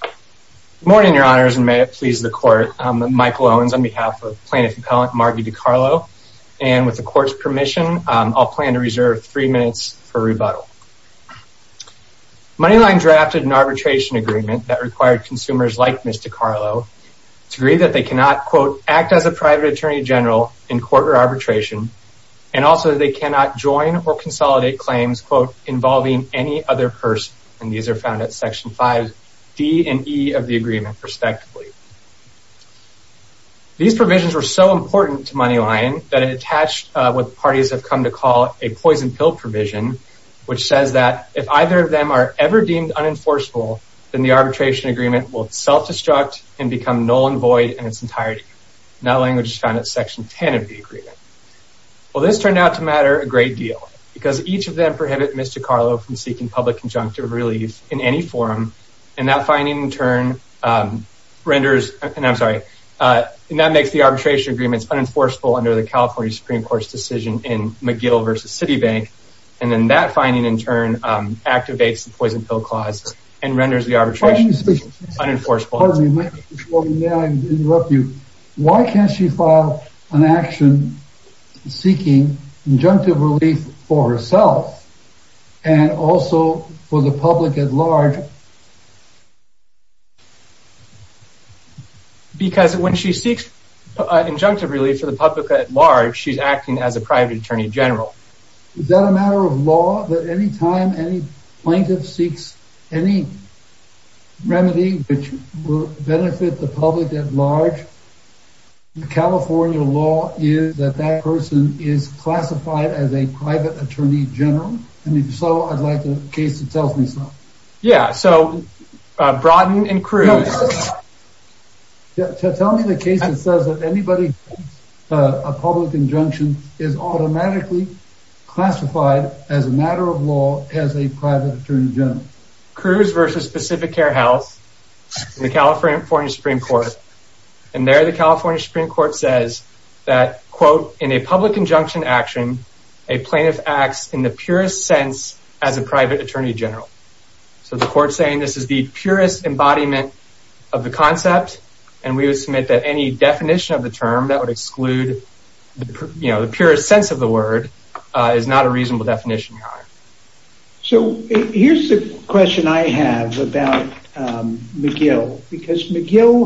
Good morning, your honors, and may it please the court. I'm Michael Owens on behalf of plaintiff appellant Marggie Dicarlo, and with the court's permission, I'll plan to reserve three minutes for rebuttal. MoneyLion drafted an arbitration agreement that required consumers like Ms. Dicarlo to agree that they cannot, quote, act as a private attorney general in court or arbitration, and also they cannot join or consolidate claims, quote, involving any other person, and these are found at section 5D and E of the agreement, respectively. These provisions were so important to MoneyLion that it attached what parties have come to call a poison pill provision, which says that if either of them are ever deemed unenforceable, then the arbitration agreement will self-destruct and become null and void in its entirety. That language is found at section 10 of the agreement. Well, this turned out to matter a public injunctive relief in any forum, and that finding in turn renders, and I'm sorry, and that makes the arbitration agreements unenforceable under the California Supreme Court's decision in McGill versus Citibank, and then that finding in turn activates the poison pill clause and renders the arbitration unenforceable. Pardon me, may I interrupt you? Why can't she file an action seeking injunctive relief for herself and also for the public at large? Because when she seeks injunctive relief for the public at large, she's acting as a private attorney general. Is that a matter of law that any time any plaintiff seeks any remedy which benefit the public at large, the California law is that that person is classified as a private attorney general, and if so, I'd like a case that tells me so. Yeah, so Broughton and Cruz. Tell me the case that says that anybody a public injunction is automatically classified as a matter of law as a private attorney general. Cruz versus Pacific Care House, the California Supreme Court, and there the California Supreme Court says that, quote, in a public injunction action, a plaintiff acts in the purest sense as a private attorney general. So the court saying this is the purest embodiment of the concept, and we would submit that any definition of the term that would So here's the question I have about McGill, because McGill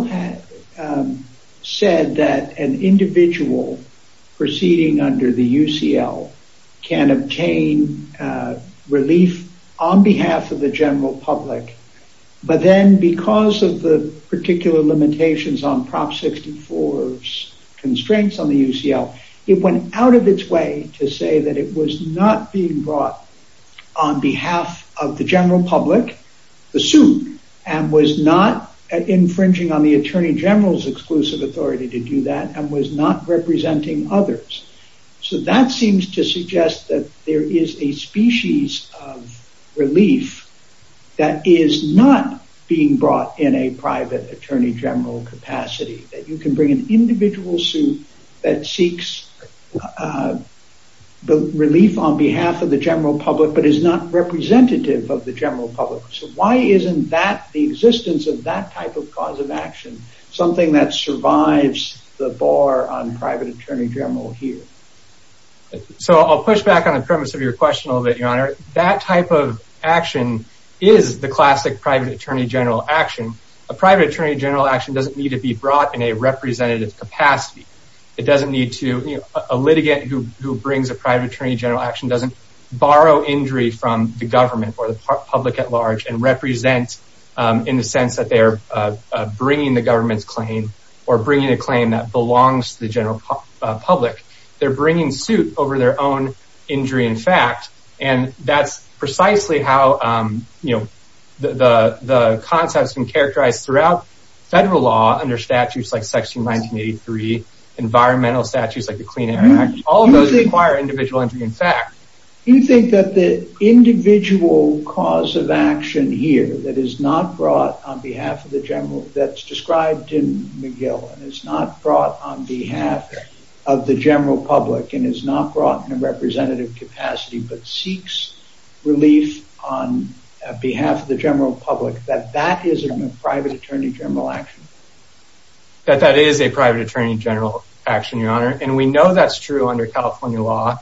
said that an individual proceeding under the UCL can obtain relief on behalf of the general public, but then because of the particular limitations on Prop 64's constraints on the UCL, it went out of its way to say that it was not being brought on behalf of the general public, the suit, and was not infringing on the attorney general's exclusive authority to do that and was not representing others. So that seems to suggest that there is a species of relief that is not being brought in a the relief on behalf of the general public but is not representative of the general public. So why isn't that the existence of that type of cause of action something that survives the bar on private attorney general here? So I'll push back on the premise of your question a little bit, your honor. That type of action is the classic private attorney general action. A private attorney general action doesn't need to be brought in a representative capacity. It doesn't need to, you know, a person who brings a private attorney general action doesn't borrow injury from the government or the public at large and represent in the sense that they're bringing the government's claim or bringing a claim that belongs to the general public. They're bringing suit over their own injury in fact, and that's precisely how, you know, the concept has been characterized throughout federal law under statutes like section 1983, environmental statutes like the Clean Air Act. All of those require individual injury in fact. You think that the individual cause of action here that is not brought on behalf of the general that's described in McGill and is not brought on behalf of the general public and is not brought in a representative capacity but seeks relief on behalf of the general public that that isn't a private attorney general action? That that is a private attorney general action, your honor, and we know that's true under California law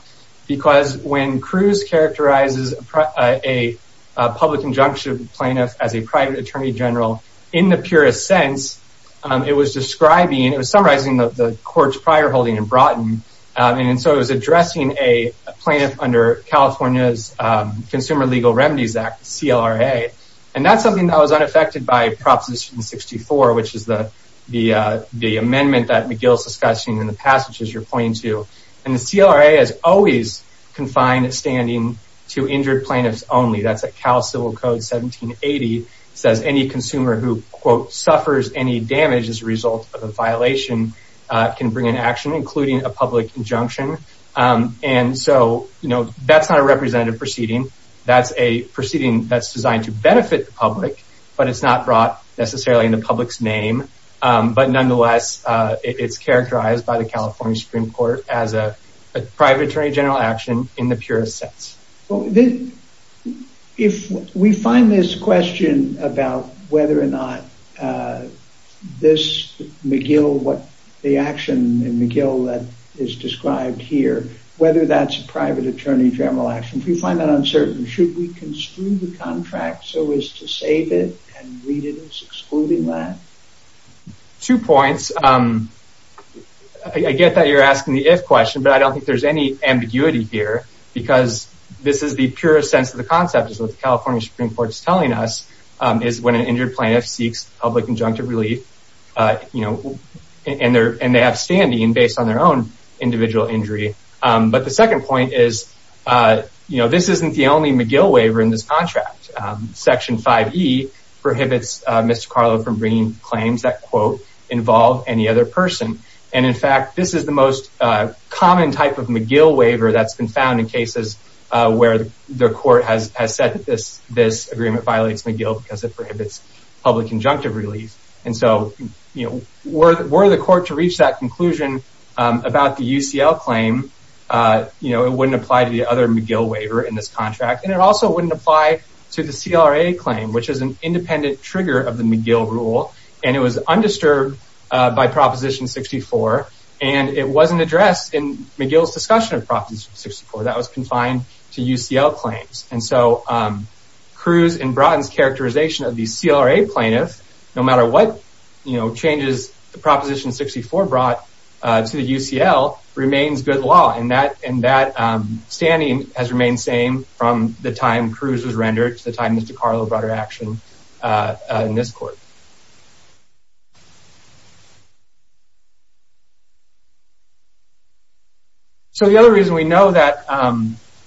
because when Cruz characterizes a public injunction plaintiff as a private attorney general in the purest sense, it was describing, it was summarizing the courts prior holding in Broughton and so it was addressing a plaintiff under California's Consumer Legal Remedies Act, CLRA, and that's something that was unaffected by Proposition 64 which is the the the amendment that McGill's discussing in the passage as you're pointing to and the CLRA has always confined standing to injured plaintiffs only. That's a Cal Civil Code 1780 says any consumer who quote suffers any damage as a result of a violation can bring an action including a public injunction and so you know that's not a representative proceeding that's a proceeding that's designed to benefit the public but it's not brought necessarily in the public's name but nonetheless it's characterized by the California Supreme Court as a private attorney general action in the purest sense. Well then if we find this question about whether or not this McGill what the action in is described here whether that's a private attorney general action if you find that uncertain should we construe the contract so as to save it and read it as excluding that? Two points. I get that you're asking the if question but I don't think there's any ambiguity here because this is the purest sense of the concept is what the California Supreme Court is telling us is when an injured plaintiff seeks public injunctive relief you know and they're and they have standing based on their own individual injury but the second point is you know this isn't the only McGill waiver in this contract. Section 5e prohibits Mr. Carlo from bringing claims that quote involve any other person and in fact this is the most common type of McGill waiver that's been found in cases where the court has said that this were the court to reach that conclusion about the UCL claim you know it wouldn't apply to the other McGill waiver in this contract and it also wouldn't apply to the CLA claim which is an independent trigger of the McGill rule and it was undisturbed by Proposition 64 and it wasn't addressed in McGill's discussion of Proposition 64 that was confined to UCL claims and so Cruz and Bratton's characterization of the CLA plaintiff no matter what you know changes the Proposition 64 brought to the UCL remains good law and that and that standing has remained same from the time Cruz was rendered to the time Mr. Carlo brought her action in this court. So the other reason we know that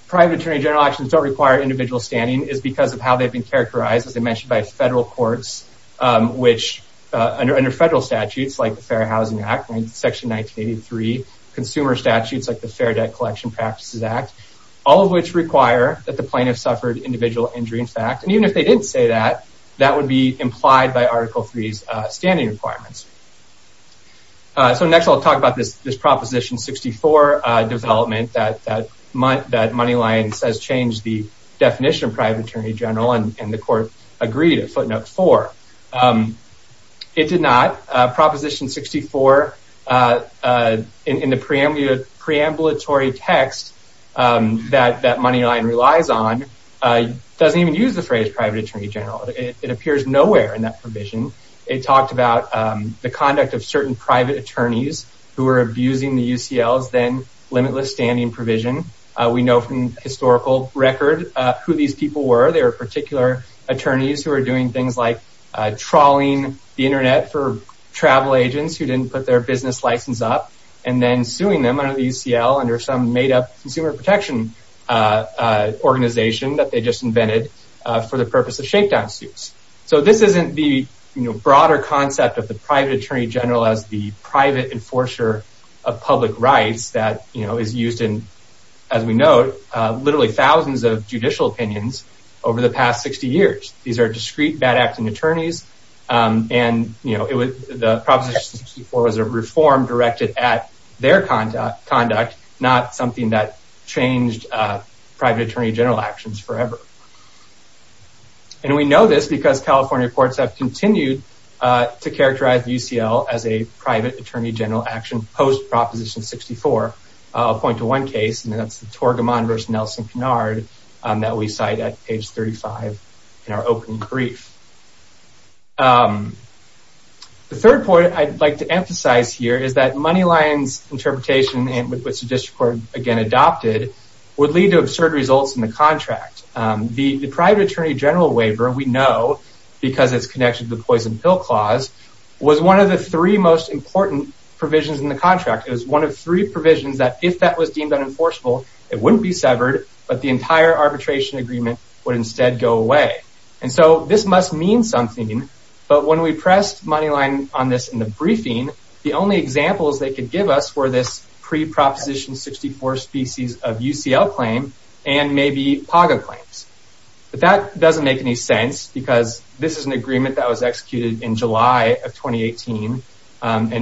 private attorney general actions don't require individual standing is because of how they've been characterized as I mentioned by federal courts which under federal statutes like the Fair Housing Act and Section 1983 consumer statutes like the Fair Debt Collection Practices Act all of which require that the plaintiff suffered individual injury in fact and even if they didn't say that that would be implied by Article 3's standing requirements. So next I'll talk about this this Proposition 64 development that Moneylines has changed the definition of private attorney general and the court agreed at footnote 4. It did not. Proposition 64 in the preambulatory text that that Moneyline relies on doesn't even use the phrase private attorney general. It appears nowhere in that provision. It talked about the conduct of certain private attorneys who are abusing the UCL's then limitless standing provision. We know from historical record who these people were. They were particular attorneys who are doing things like trawling the internet for travel agents who didn't put their business license up and then suing them under the UCL under some made-up consumer protection organization that they just invented for the purpose of shakedown suits. So this isn't the you know broader concept of the private attorney general as the private enforcer of public rights that you used in as we note literally thousands of judicial opinions over the past 60 years. These are discrete bad acting attorneys and you know it was the Proposition 64 was a reform directed at their conduct not something that changed private attorney general actions forever. And we know this because California courts have continued to characterize UCL as a private attorney general action post Proposition 64. I'll point to one case and that's the Torgamon versus Nelson-Pinard that we cite at page 35 in our opening brief. The third point I'd like to emphasize here is that Moneyline's interpretation and with which the district court again adopted would lead to absurd results in the contract. The private attorney general waiver we know because it's connected to the poison pill clause was one of the three important provisions in the contract. It was one of three provisions that if that was deemed unenforceable it wouldn't be severed but the entire arbitration agreement would instead go away. And so this must mean something but when we pressed Moneyline on this in the briefing the only examples they could give us were this pre-Proposition 64 species of UCL claim and maybe PAGA claims. But that doesn't make any sense because this is an agreement that was in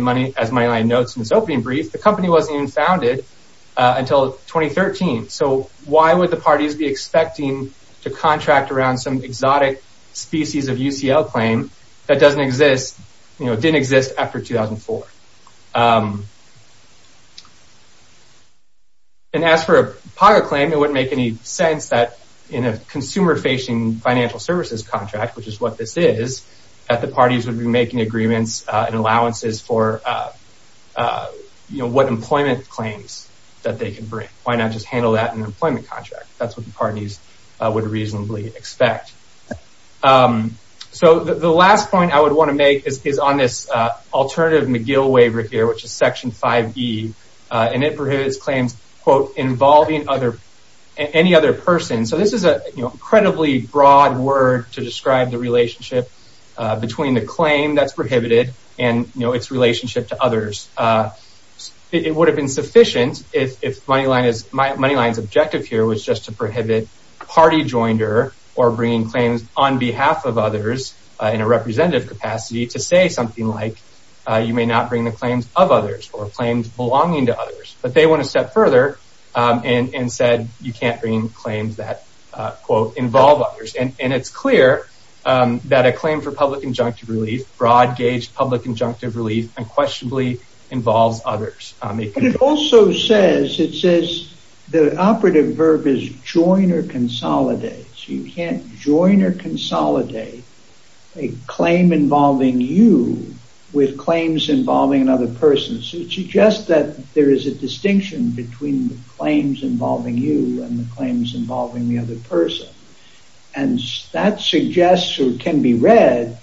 money as Moneyline notes in its opening brief the company wasn't even founded until 2013. So why would the parties be expecting to contract around some exotic species of UCL claim that doesn't exist you know didn't exist after 2004. And as for a PAGA claim it wouldn't make any sense that in a consumer facing financial services contract which is what this is that the parties would be making agreements and for you know what employment claims that they can bring. Why not just handle that in an employment contract? That's what the parties would reasonably expect. So the last point I would want to make is on this alternative McGill waiver here which is section 5e and it prohibits claims quote involving other any other person. So this is a you know incredibly broad word to describe the relationship between the claim that's prohibited and its relationship to others. It would have been sufficient if Moneyline's objective here was just to prohibit party joiner or bringing claims on behalf of others in a representative capacity to say something like you may not bring the claims of others or claims belonging to others. But they went a step further and said you can't bring claims that quote involve others and it's clear that a claim for public injunctive relief broad gauge public injunctive relief unquestionably involves others. But it also says it says the operative verb is join or consolidate. So you can't join or consolidate a claim involving you with claims involving another person. So it suggests that there is a distinction between the claims involving you and the claims involving the other person and that suggests or can be read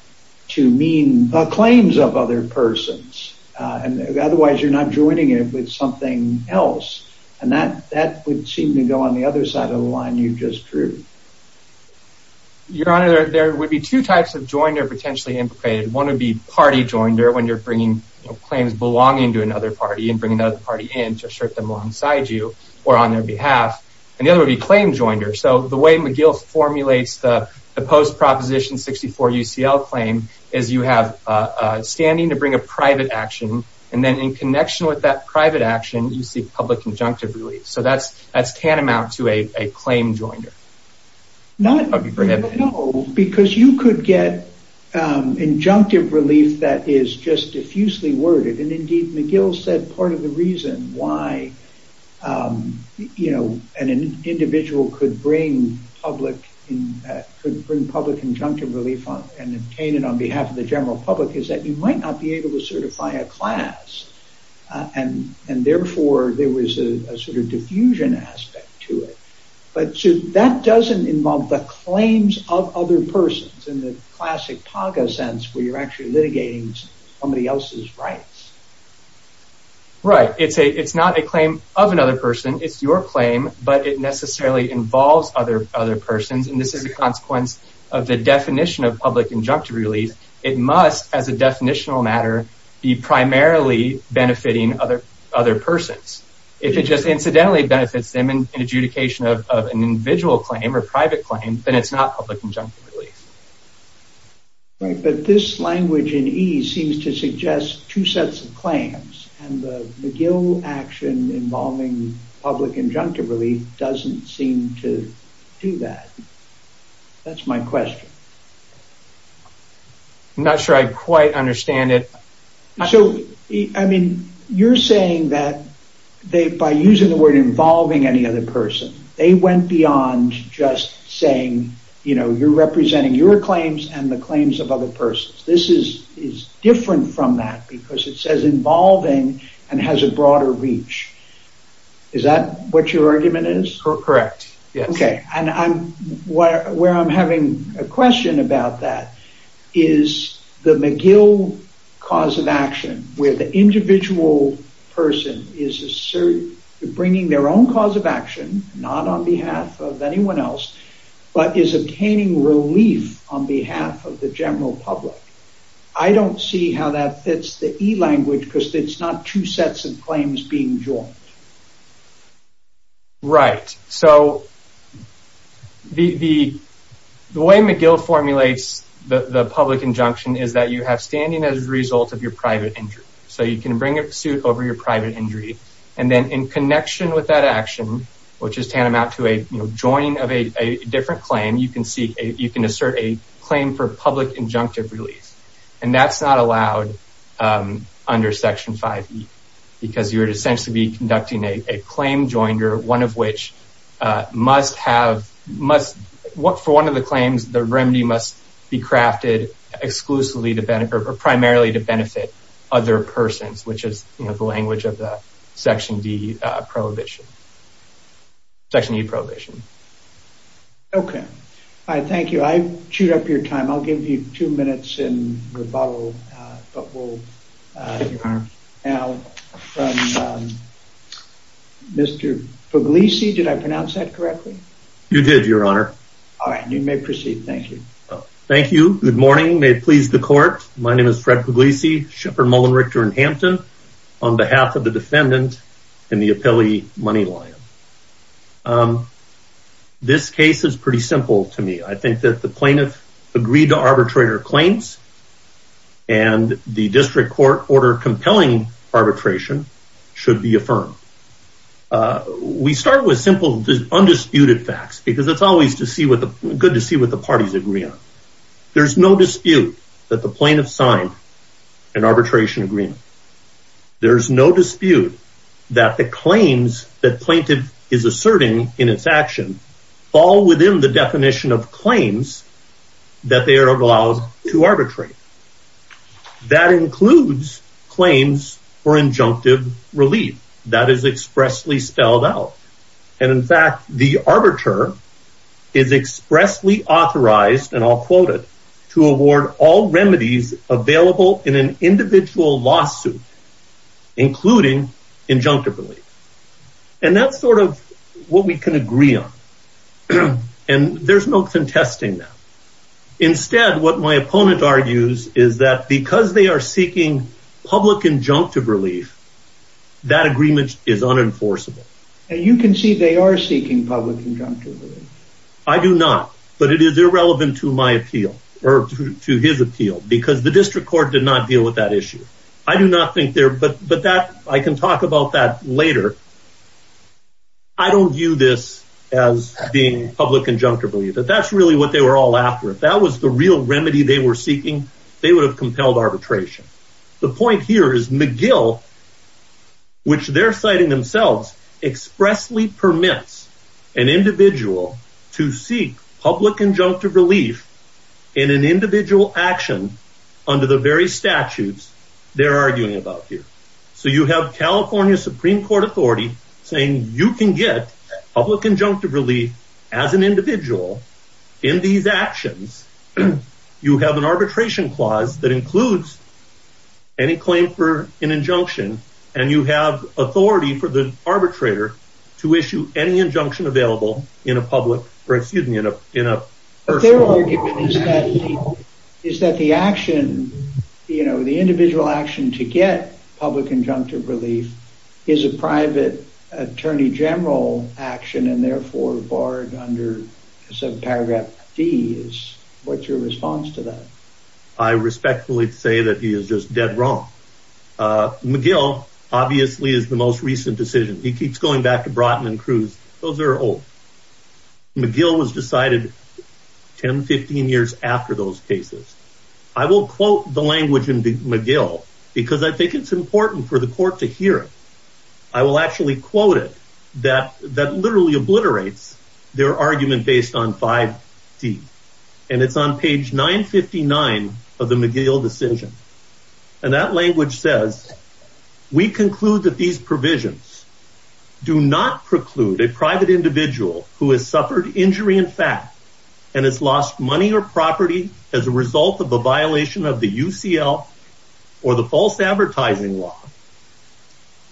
to mean the claims of other persons and otherwise you're not joining it with something else and that that would seem to go on the other side of the line you just drew. Your honor there would be two types of joiner potentially implicated. One would be party joiner when you're bringing claims belonging to another party and bring another party in to claim joiner. So the way McGill formulates the post proposition 64 UCL claim is you have a standing to bring a private action and then in connection with that private action you see public injunctive relief. So that's that's tantamount to a claim joiner. Not because you could get injunctive relief that is just diffusely worded and indeed McGill said part of the reason why you know an individual could bring public in could bring public injunctive relief on and obtain it on behalf of the general public is that you might not be able to certify a class and and therefore there was a sort of diffusion aspect to it. But so that doesn't involve the claims of other persons in the classic paga sense where you're actually litigating somebody else's rights. Right it's a it's not a claim of another person it's your claim but it necessarily involves other other persons and this is a consequence of the definition of public injunctive relief. It must as a definitional matter be primarily benefiting other other persons. If it just incidentally benefits them in adjudication of an individual claim or private claim then it's not public injunctive relief. Right but this language in ease seems to suggest two sets of claims and the McGill action involving public injunctive relief doesn't seem to do that. That's my question. I'm not sure I quite understand it. So I mean you're saying that they by using the word involving any other person they went beyond just saying you know you're representing your claims and the claims of other persons. This is is different from that because it says involving and has a broader reach. Is that what your argument is? Correct yes. Okay and I'm where I'm having a question about that is the McGill cause of action where the individual person is bringing their own cause of action not on behalf of anyone else but is obtaining relief on behalf of the general public. I don't see how that fits the e-language because it's not two sets of claims being joined. Right so the way McGill formulates the public injunction is that you have standing as a result of your private injury. So you can bring a suit over your private injury and then in connection with that action which is tantamount to a you know joining of a different claim you can seek a you can assert a claim for public injunctive release and that's not allowed under section 5e because you would essentially be conducting a claim joiner one of which must have must what for one of the claims the remedy must be crafted exclusively to benefit or primarily to benefit other persons which is you know the language of the section d prohibition section e prohibition. Okay all right thank you I chewed up your time I'll give you two minutes in but we'll now from Mr. Puglisi did I pronounce that correctly? You did your honor. All right you may proceed thank you. Thank you good morning may it please the court my name is Fred Puglisi Shepard Mullen Richter in Hampton on behalf of the defendant in the appellee Money Lion. This case is pretty simple to me I think that the plaintiff agreed to arbitrate her claims and the district court order compelling arbitration should be affirmed. We start with simple undisputed facts because it's always to see what the good to see what the parties agree on. There's no dispute that the plaintiff signed an arbitration agreement. There's no dispute that the claims that plaintiff is asserting in its action fall within the definition of claims that they are allowed to arbitrate. That includes claims for injunctive relief that is expressly spelled out and in fact the arbiter is expressly authorized and I'll quote it to award all remedies available in an individual lawsuit including injunctive relief and that's sort of what we can agree on and there's no contesting that. Instead what my opponent argues is that because they are seeking public injunctive relief that agreement is unenforceable and you can see they are seeking public injunctive relief. I do not but it is irrelevant to my appeal or to his appeal because the district court did not deal with that issue. I do not think there but but that I can about that later. I don't view this as being public injunctive relief but that's really what they were all after. If that was the real remedy they were seeking they would have compelled arbitration. The point here is McGill which they're citing themselves expressly permits an individual to seek public injunctive relief in an individual action under the very statutes they're arguing about here. So you have California Supreme Court authority saying you can get public injunctive relief as an individual in these actions. You have an arbitration clause that includes any claim for an injunction and you have authority for the arbitrator to issue any injunction available in a public or excuse me in a in a. Their argument is that is that the action you know the individual action to get public injunctive relief is a private attorney general action and therefore barred under paragraph D is what's your response to that? I respectfully say that he is just dead wrong. McGill obviously is the most recent decision. He keeps going back Broughton and Cruz. Those are old. McGill was decided 10-15 years after those cases. I will quote the language in the McGill because I think it's important for the court to hear it. I will actually quote it that that literally obliterates their argument based on 5D and it's on page 959 of the McGill decision and that language says we conclude that these provisions do not preclude a private individual who has suffered injury in fact and has lost money or property as a result of a violation of the UCL or the false advertising law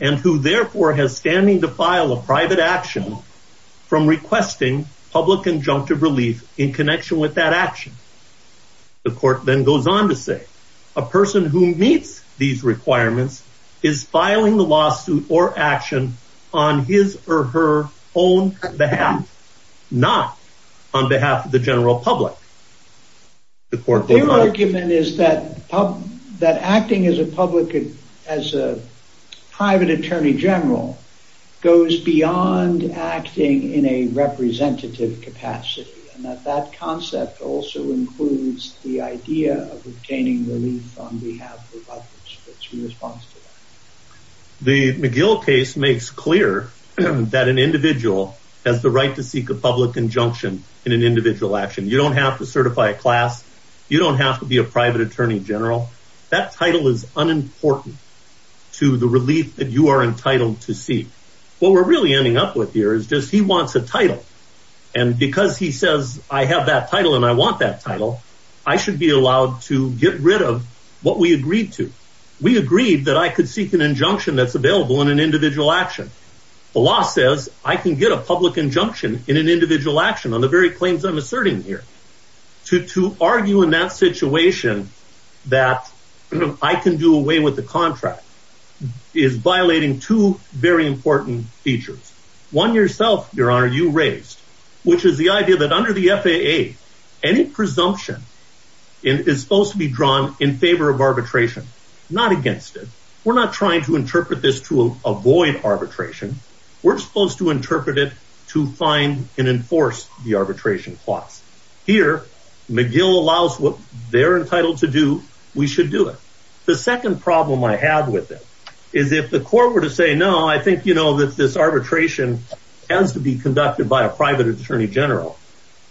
and who therefore has standing to file a private action from requesting public injunctive relief in connection with that action. The court then goes on to say a person who meets these requirements is filing the lawsuit or action on his or her own behalf not on behalf of the general public. The court their argument is that that acting as a public as a private attorney general goes beyond acting in a representative capacity and that that concept also includes the idea of obtaining relief on behalf of others. The McGill case makes clear that an individual has the right to seek a public injunction in an individual action. You don't have to certify a class. You don't have to be a private attorney general. That title is unimportant to the relief that you are entitled to see. What we're really ending up with here is just he wants a title and because he says I have that title and I want that title I should be allowed to get rid of what we agreed to. We agreed that I could seek an injunction that's available in an individual action. The law says I can get a public injunction in an individual action on the very claims I'm two very important features. One yourself your honor you raised which is the idea that under the FAA any presumption is supposed to be drawn in favor of arbitration not against it. We're not trying to interpret this to avoid arbitration. We're supposed to interpret it to find and enforce the arbitration clause. Here McGill allows what they're entitled to do we should do it. The second problem I have with it is if the court were to say no I think you know that this arbitration has to be conducted by a private attorney general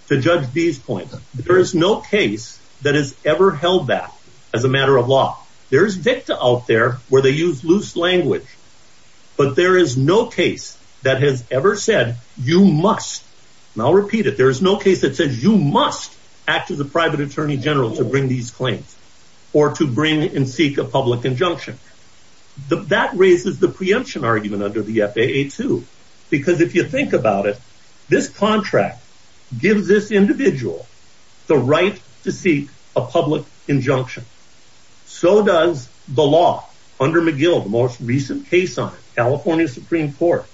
to judge these points. There is no case that has ever held that as a matter of law. There's victa out there where they use loose language but there is no case that has ever said you must. I'll repeat it there is no case that says you must act as a private attorney general to bring these claims or to bring and seek a public injunction. That raises the preemption argument under the FAA too because if you think about it this contract gives this individual the right to seek a public injunction. So does the law under McGill the most recent case on California Supreme Court.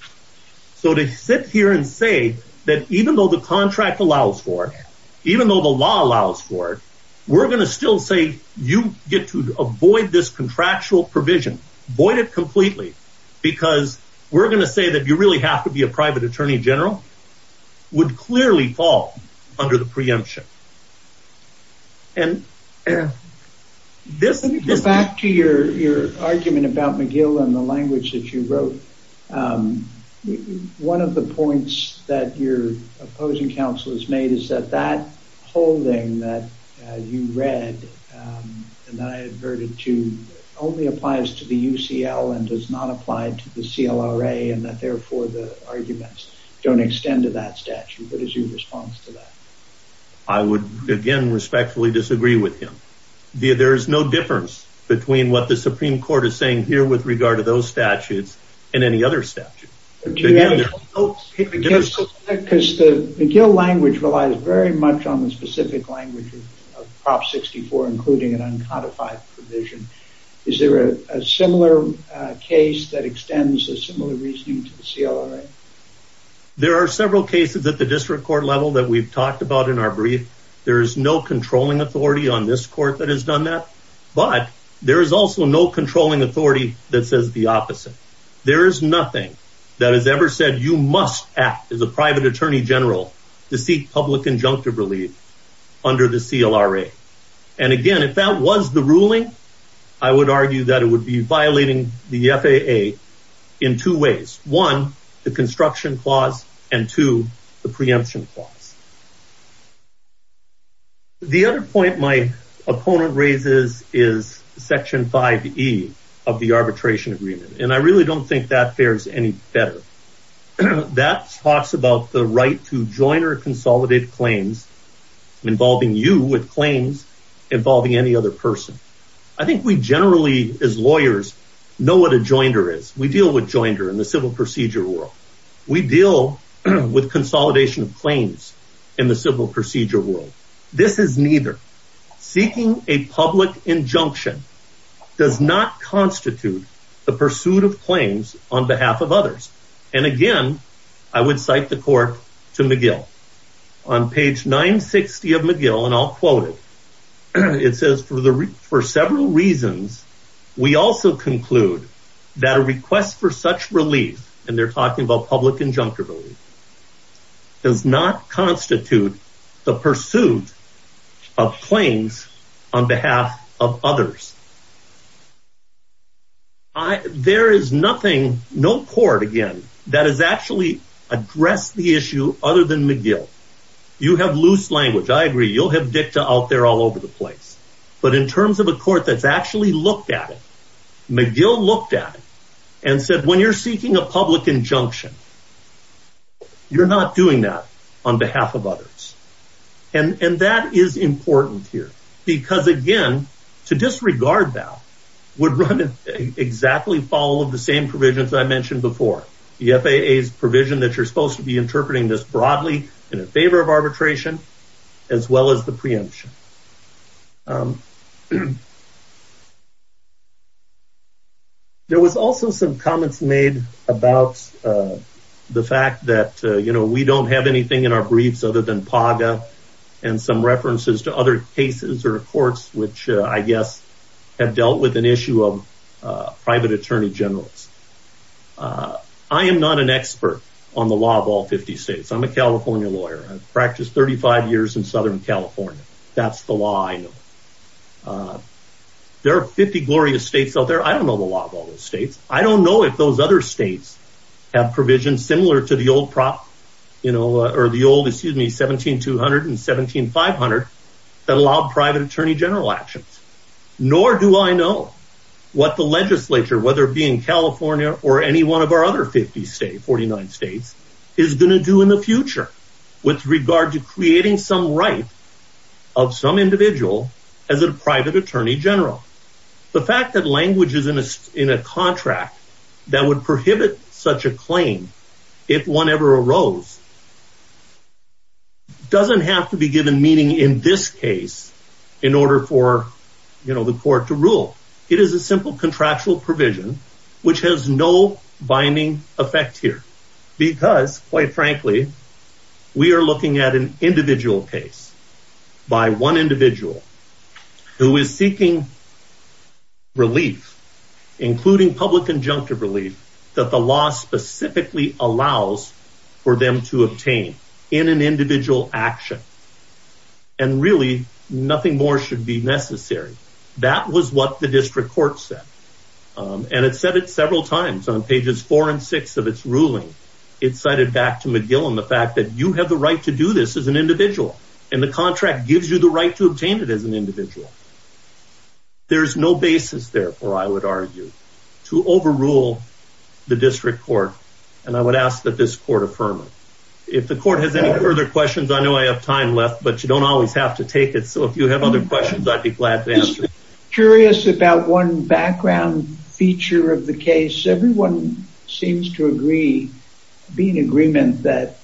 So to sit here and say that even though the contract allows for it even though the law allows for it we're going to still say you get to avoid this contractual provision void it completely because we're going to say that you really have to be a private attorney general would clearly fall under the preemption and this is back to your argument about McGill and the language that you wrote. One of the points that your opposing counsel has made is that that holding that you read and that I adverted to only applies to the UCL and does not apply to the CLRA and that therefore the arguments don't extend to that statute. What is your response to that? I would again respectfully disagree with him. There is no difference between what the statutes and any other statute. McGill language relies very much on the specific language of Prop 64 including an uncodified provision. Is there a similar case that extends a similar reasoning to the CLRA? There are several cases at the district court level that we've talked about in our brief. There is no controlling authority on this court that has done that but there is also no controlling authority that says the opposite. There is nothing that has ever said you must act as a private attorney general to seek public injunctive relief under the CLRA and again if that was the ruling I would argue that it would be violating the FAA in two ways. One the construction clause and two the preemption clause. The other point my opponent raises is section 5E of the arbitration agreement and I really don't think that fares any better. That talks about the right to join or consolidate claims involving you with claims involving any other person. I think we generally as lawyers know what a joinder is. We deal with joinder in the civil procedure world. We deal with consolidation of claims in the civil procedure world. This is neither. Seeking a public injunction does not constitute the pursuit of claims on behalf of others and again I would cite the court to McGill on page 960 of McGill and I'll quote it. It says for several reasons we also conclude that a request for such relief and they're talking about public injunctive relief does not constitute the pursuit of claims on behalf of others. There is nothing, no court again that has actually addressed the issue other than McGill. You have loose language. I agree you'll have dicta out there all over the place but in terms of a court that's actually looked at it, McGill looked at it and said when you're seeking a public injunction you're not doing that on behalf of others and that is important here because again to disregard that would run exactly follow the same provisions I mentioned before. The FAA's provision that you're supposed to be interpreting this broadly in favor of arbitration as well as the preemption. There was also some comments made about the fact that you know we don't have anything in our briefs other than PAGA and some references to other cases or courts which I guess have dealt with an issue of private attorney generals. I am not an expert on the law of all 50 states. I'm a California lawyer. I've practiced 35 years in Southern California. That's the law I know. There are 50 glorious states out there. I don't know the law of all those states. I don't know if those other states have provisions similar to the old prop you know or the old excuse me 17 200 and 17 500 that allowed private attorney general actions nor do I know what the legislature whether it be in California or any one of our other 50 states 49 states is going to do in the future with regard to creating some right of some individual as a private attorney general. The fact that language is in a contract that would prohibit such a claim if one ever arose doesn't have to be given meaning in this case in order for you know the court to rule. It is a simple contractual provision which has no binding effect here because quite frankly we are looking at an individual case by one individual who is seeking relief including public injunctive relief that the law specifically allows for them to obtain in an individual action and really nothing more should be necessary. That was what the district court said and it said it several times on pages four and six of its ruling. It cited back to McGill on the fact that you have the right to do this as an individual and the contract gives you the right to obtain it as an individual. There's no basis therefore I would argue to overrule the district court and I would ask that this court affirm it. If the court has any further questions I know I have time left but you don't always have to take it so if you have other questions I'd be glad to answer. Curious about one background feature of the case everyone seems to agree be in agreement that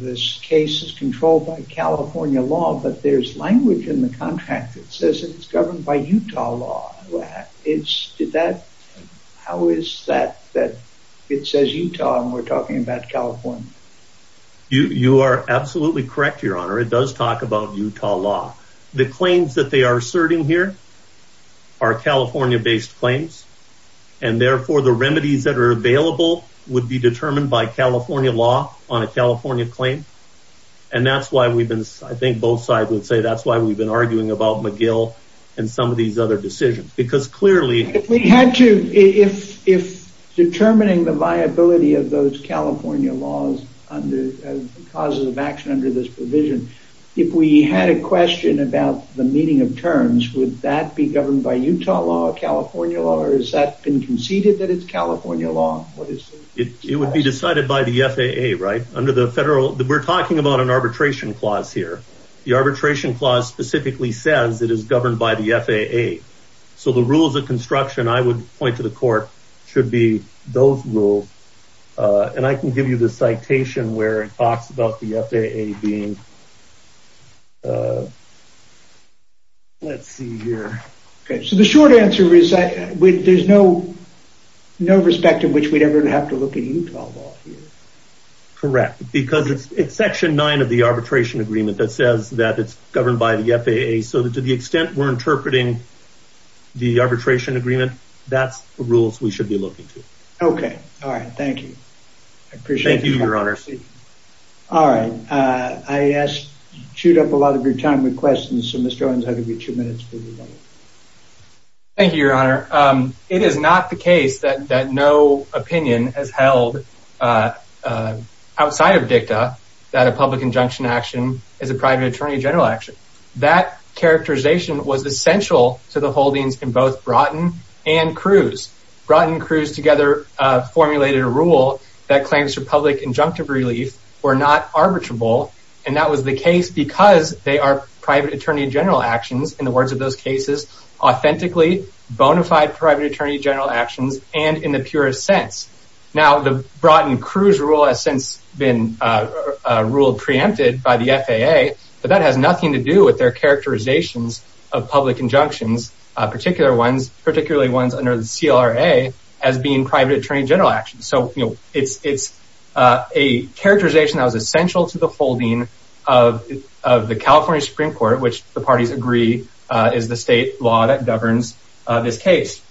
this case is controlled by California law but there's language in the contract that says it's governed by Utah law. How is that that it says Utah and we're talking about California? You are absolutely correct your honor it does talk about Utah law. The claims that they are asserting here are California based claims and therefore the remedies that are available would be determined by California law on a California claim and that's why we've been I think both sides would say that's why we've been arguing about McGill and some of these other decisions because clearly if we had to if determining the viability of those California laws under causes of action under this provision if we had a question about the meeting of terms would that be governed by Utah law California law or has that been conceded that it's California law? It would be decided by the FAA right under the federal we're talking about an arbitration clause here the arbitration clause specifically says it is governed by the FAA so the rules of citation where it talks about the FAA being let's see here okay so the short answer is that with there's no no respect in which we'd ever have to look at Utah law here. Correct because it's section nine of the arbitration agreement that says that it's governed by the FAA so that to the extent we're interpreting the arbitration agreement that's the rules we should be looking Okay all right thank you. I appreciate you your honor. All right I asked you chewed up a lot of your time with questions so Mr. Owens I'll give you two minutes. Thank you your honor it is not the case that that no opinion has held outside of dicta that a public injunction action is a private attorney general action that characterization was essential to the holdings in both Broughton and Cruz. Broughton and Cruz together formulated a rule that claims for public injunctive relief were not arbitrable and that was the case because they are private attorney general actions in the words of those cases authentically bona fide private attorney general actions and in the purest sense. Now the Broughton Cruz rule has since been ruled preempted by the FAA but that has nothing to do with their characterizations of public injunctions particular ones particularly ones under the CLRA as being private attorney general actions so you know it's it's a characterization that was essential to the holding of of the California Supreme Court which the parties agree is the state law that governs this case.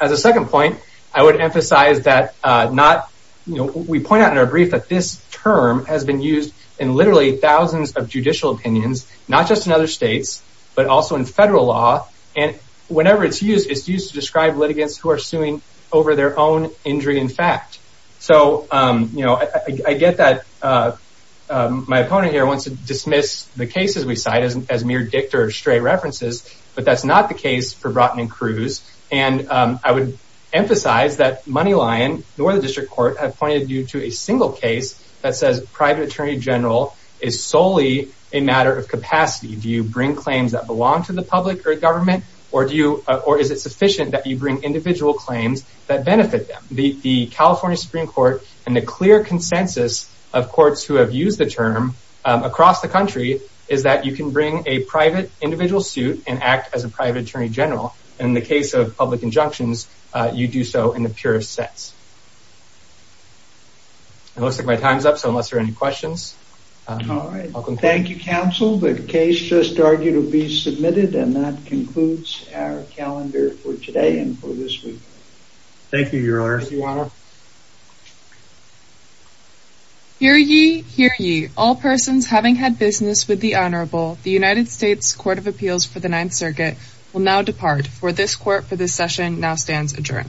As a second point I would emphasize that not you know we point out in our brief that this term has been used in literally thousands of not just in other states but also in federal law and whenever it's used it's used to describe litigants who are suing over their own injury in fact so you know I get that my opponent here wants to dismiss the cases we cite as mere dicta or stray references but that's not the case for Broughton and Cruz and I would emphasize that Moneylion nor the district court have pointed you to a single case that says private attorney general is solely a matter of capacity do you bring claims that belong to the public or government or do you or is it sufficient that you bring individual claims that benefit them the the California Supreme Court and the clear consensus of courts who have used the term across the country is that you can bring a private individual suit and act as a private attorney general in the case of public injunctions you do so in the purest sense it looks like my time's up so unless there are any questions all right thank you counsel the case just argued will be submitted and that concludes our calendar for today and for this week thank you your honor hear ye hear ye all persons having had business with the honorable the united states court of appeals for the ninth circuit will now depart for this court for this session now stands adjourned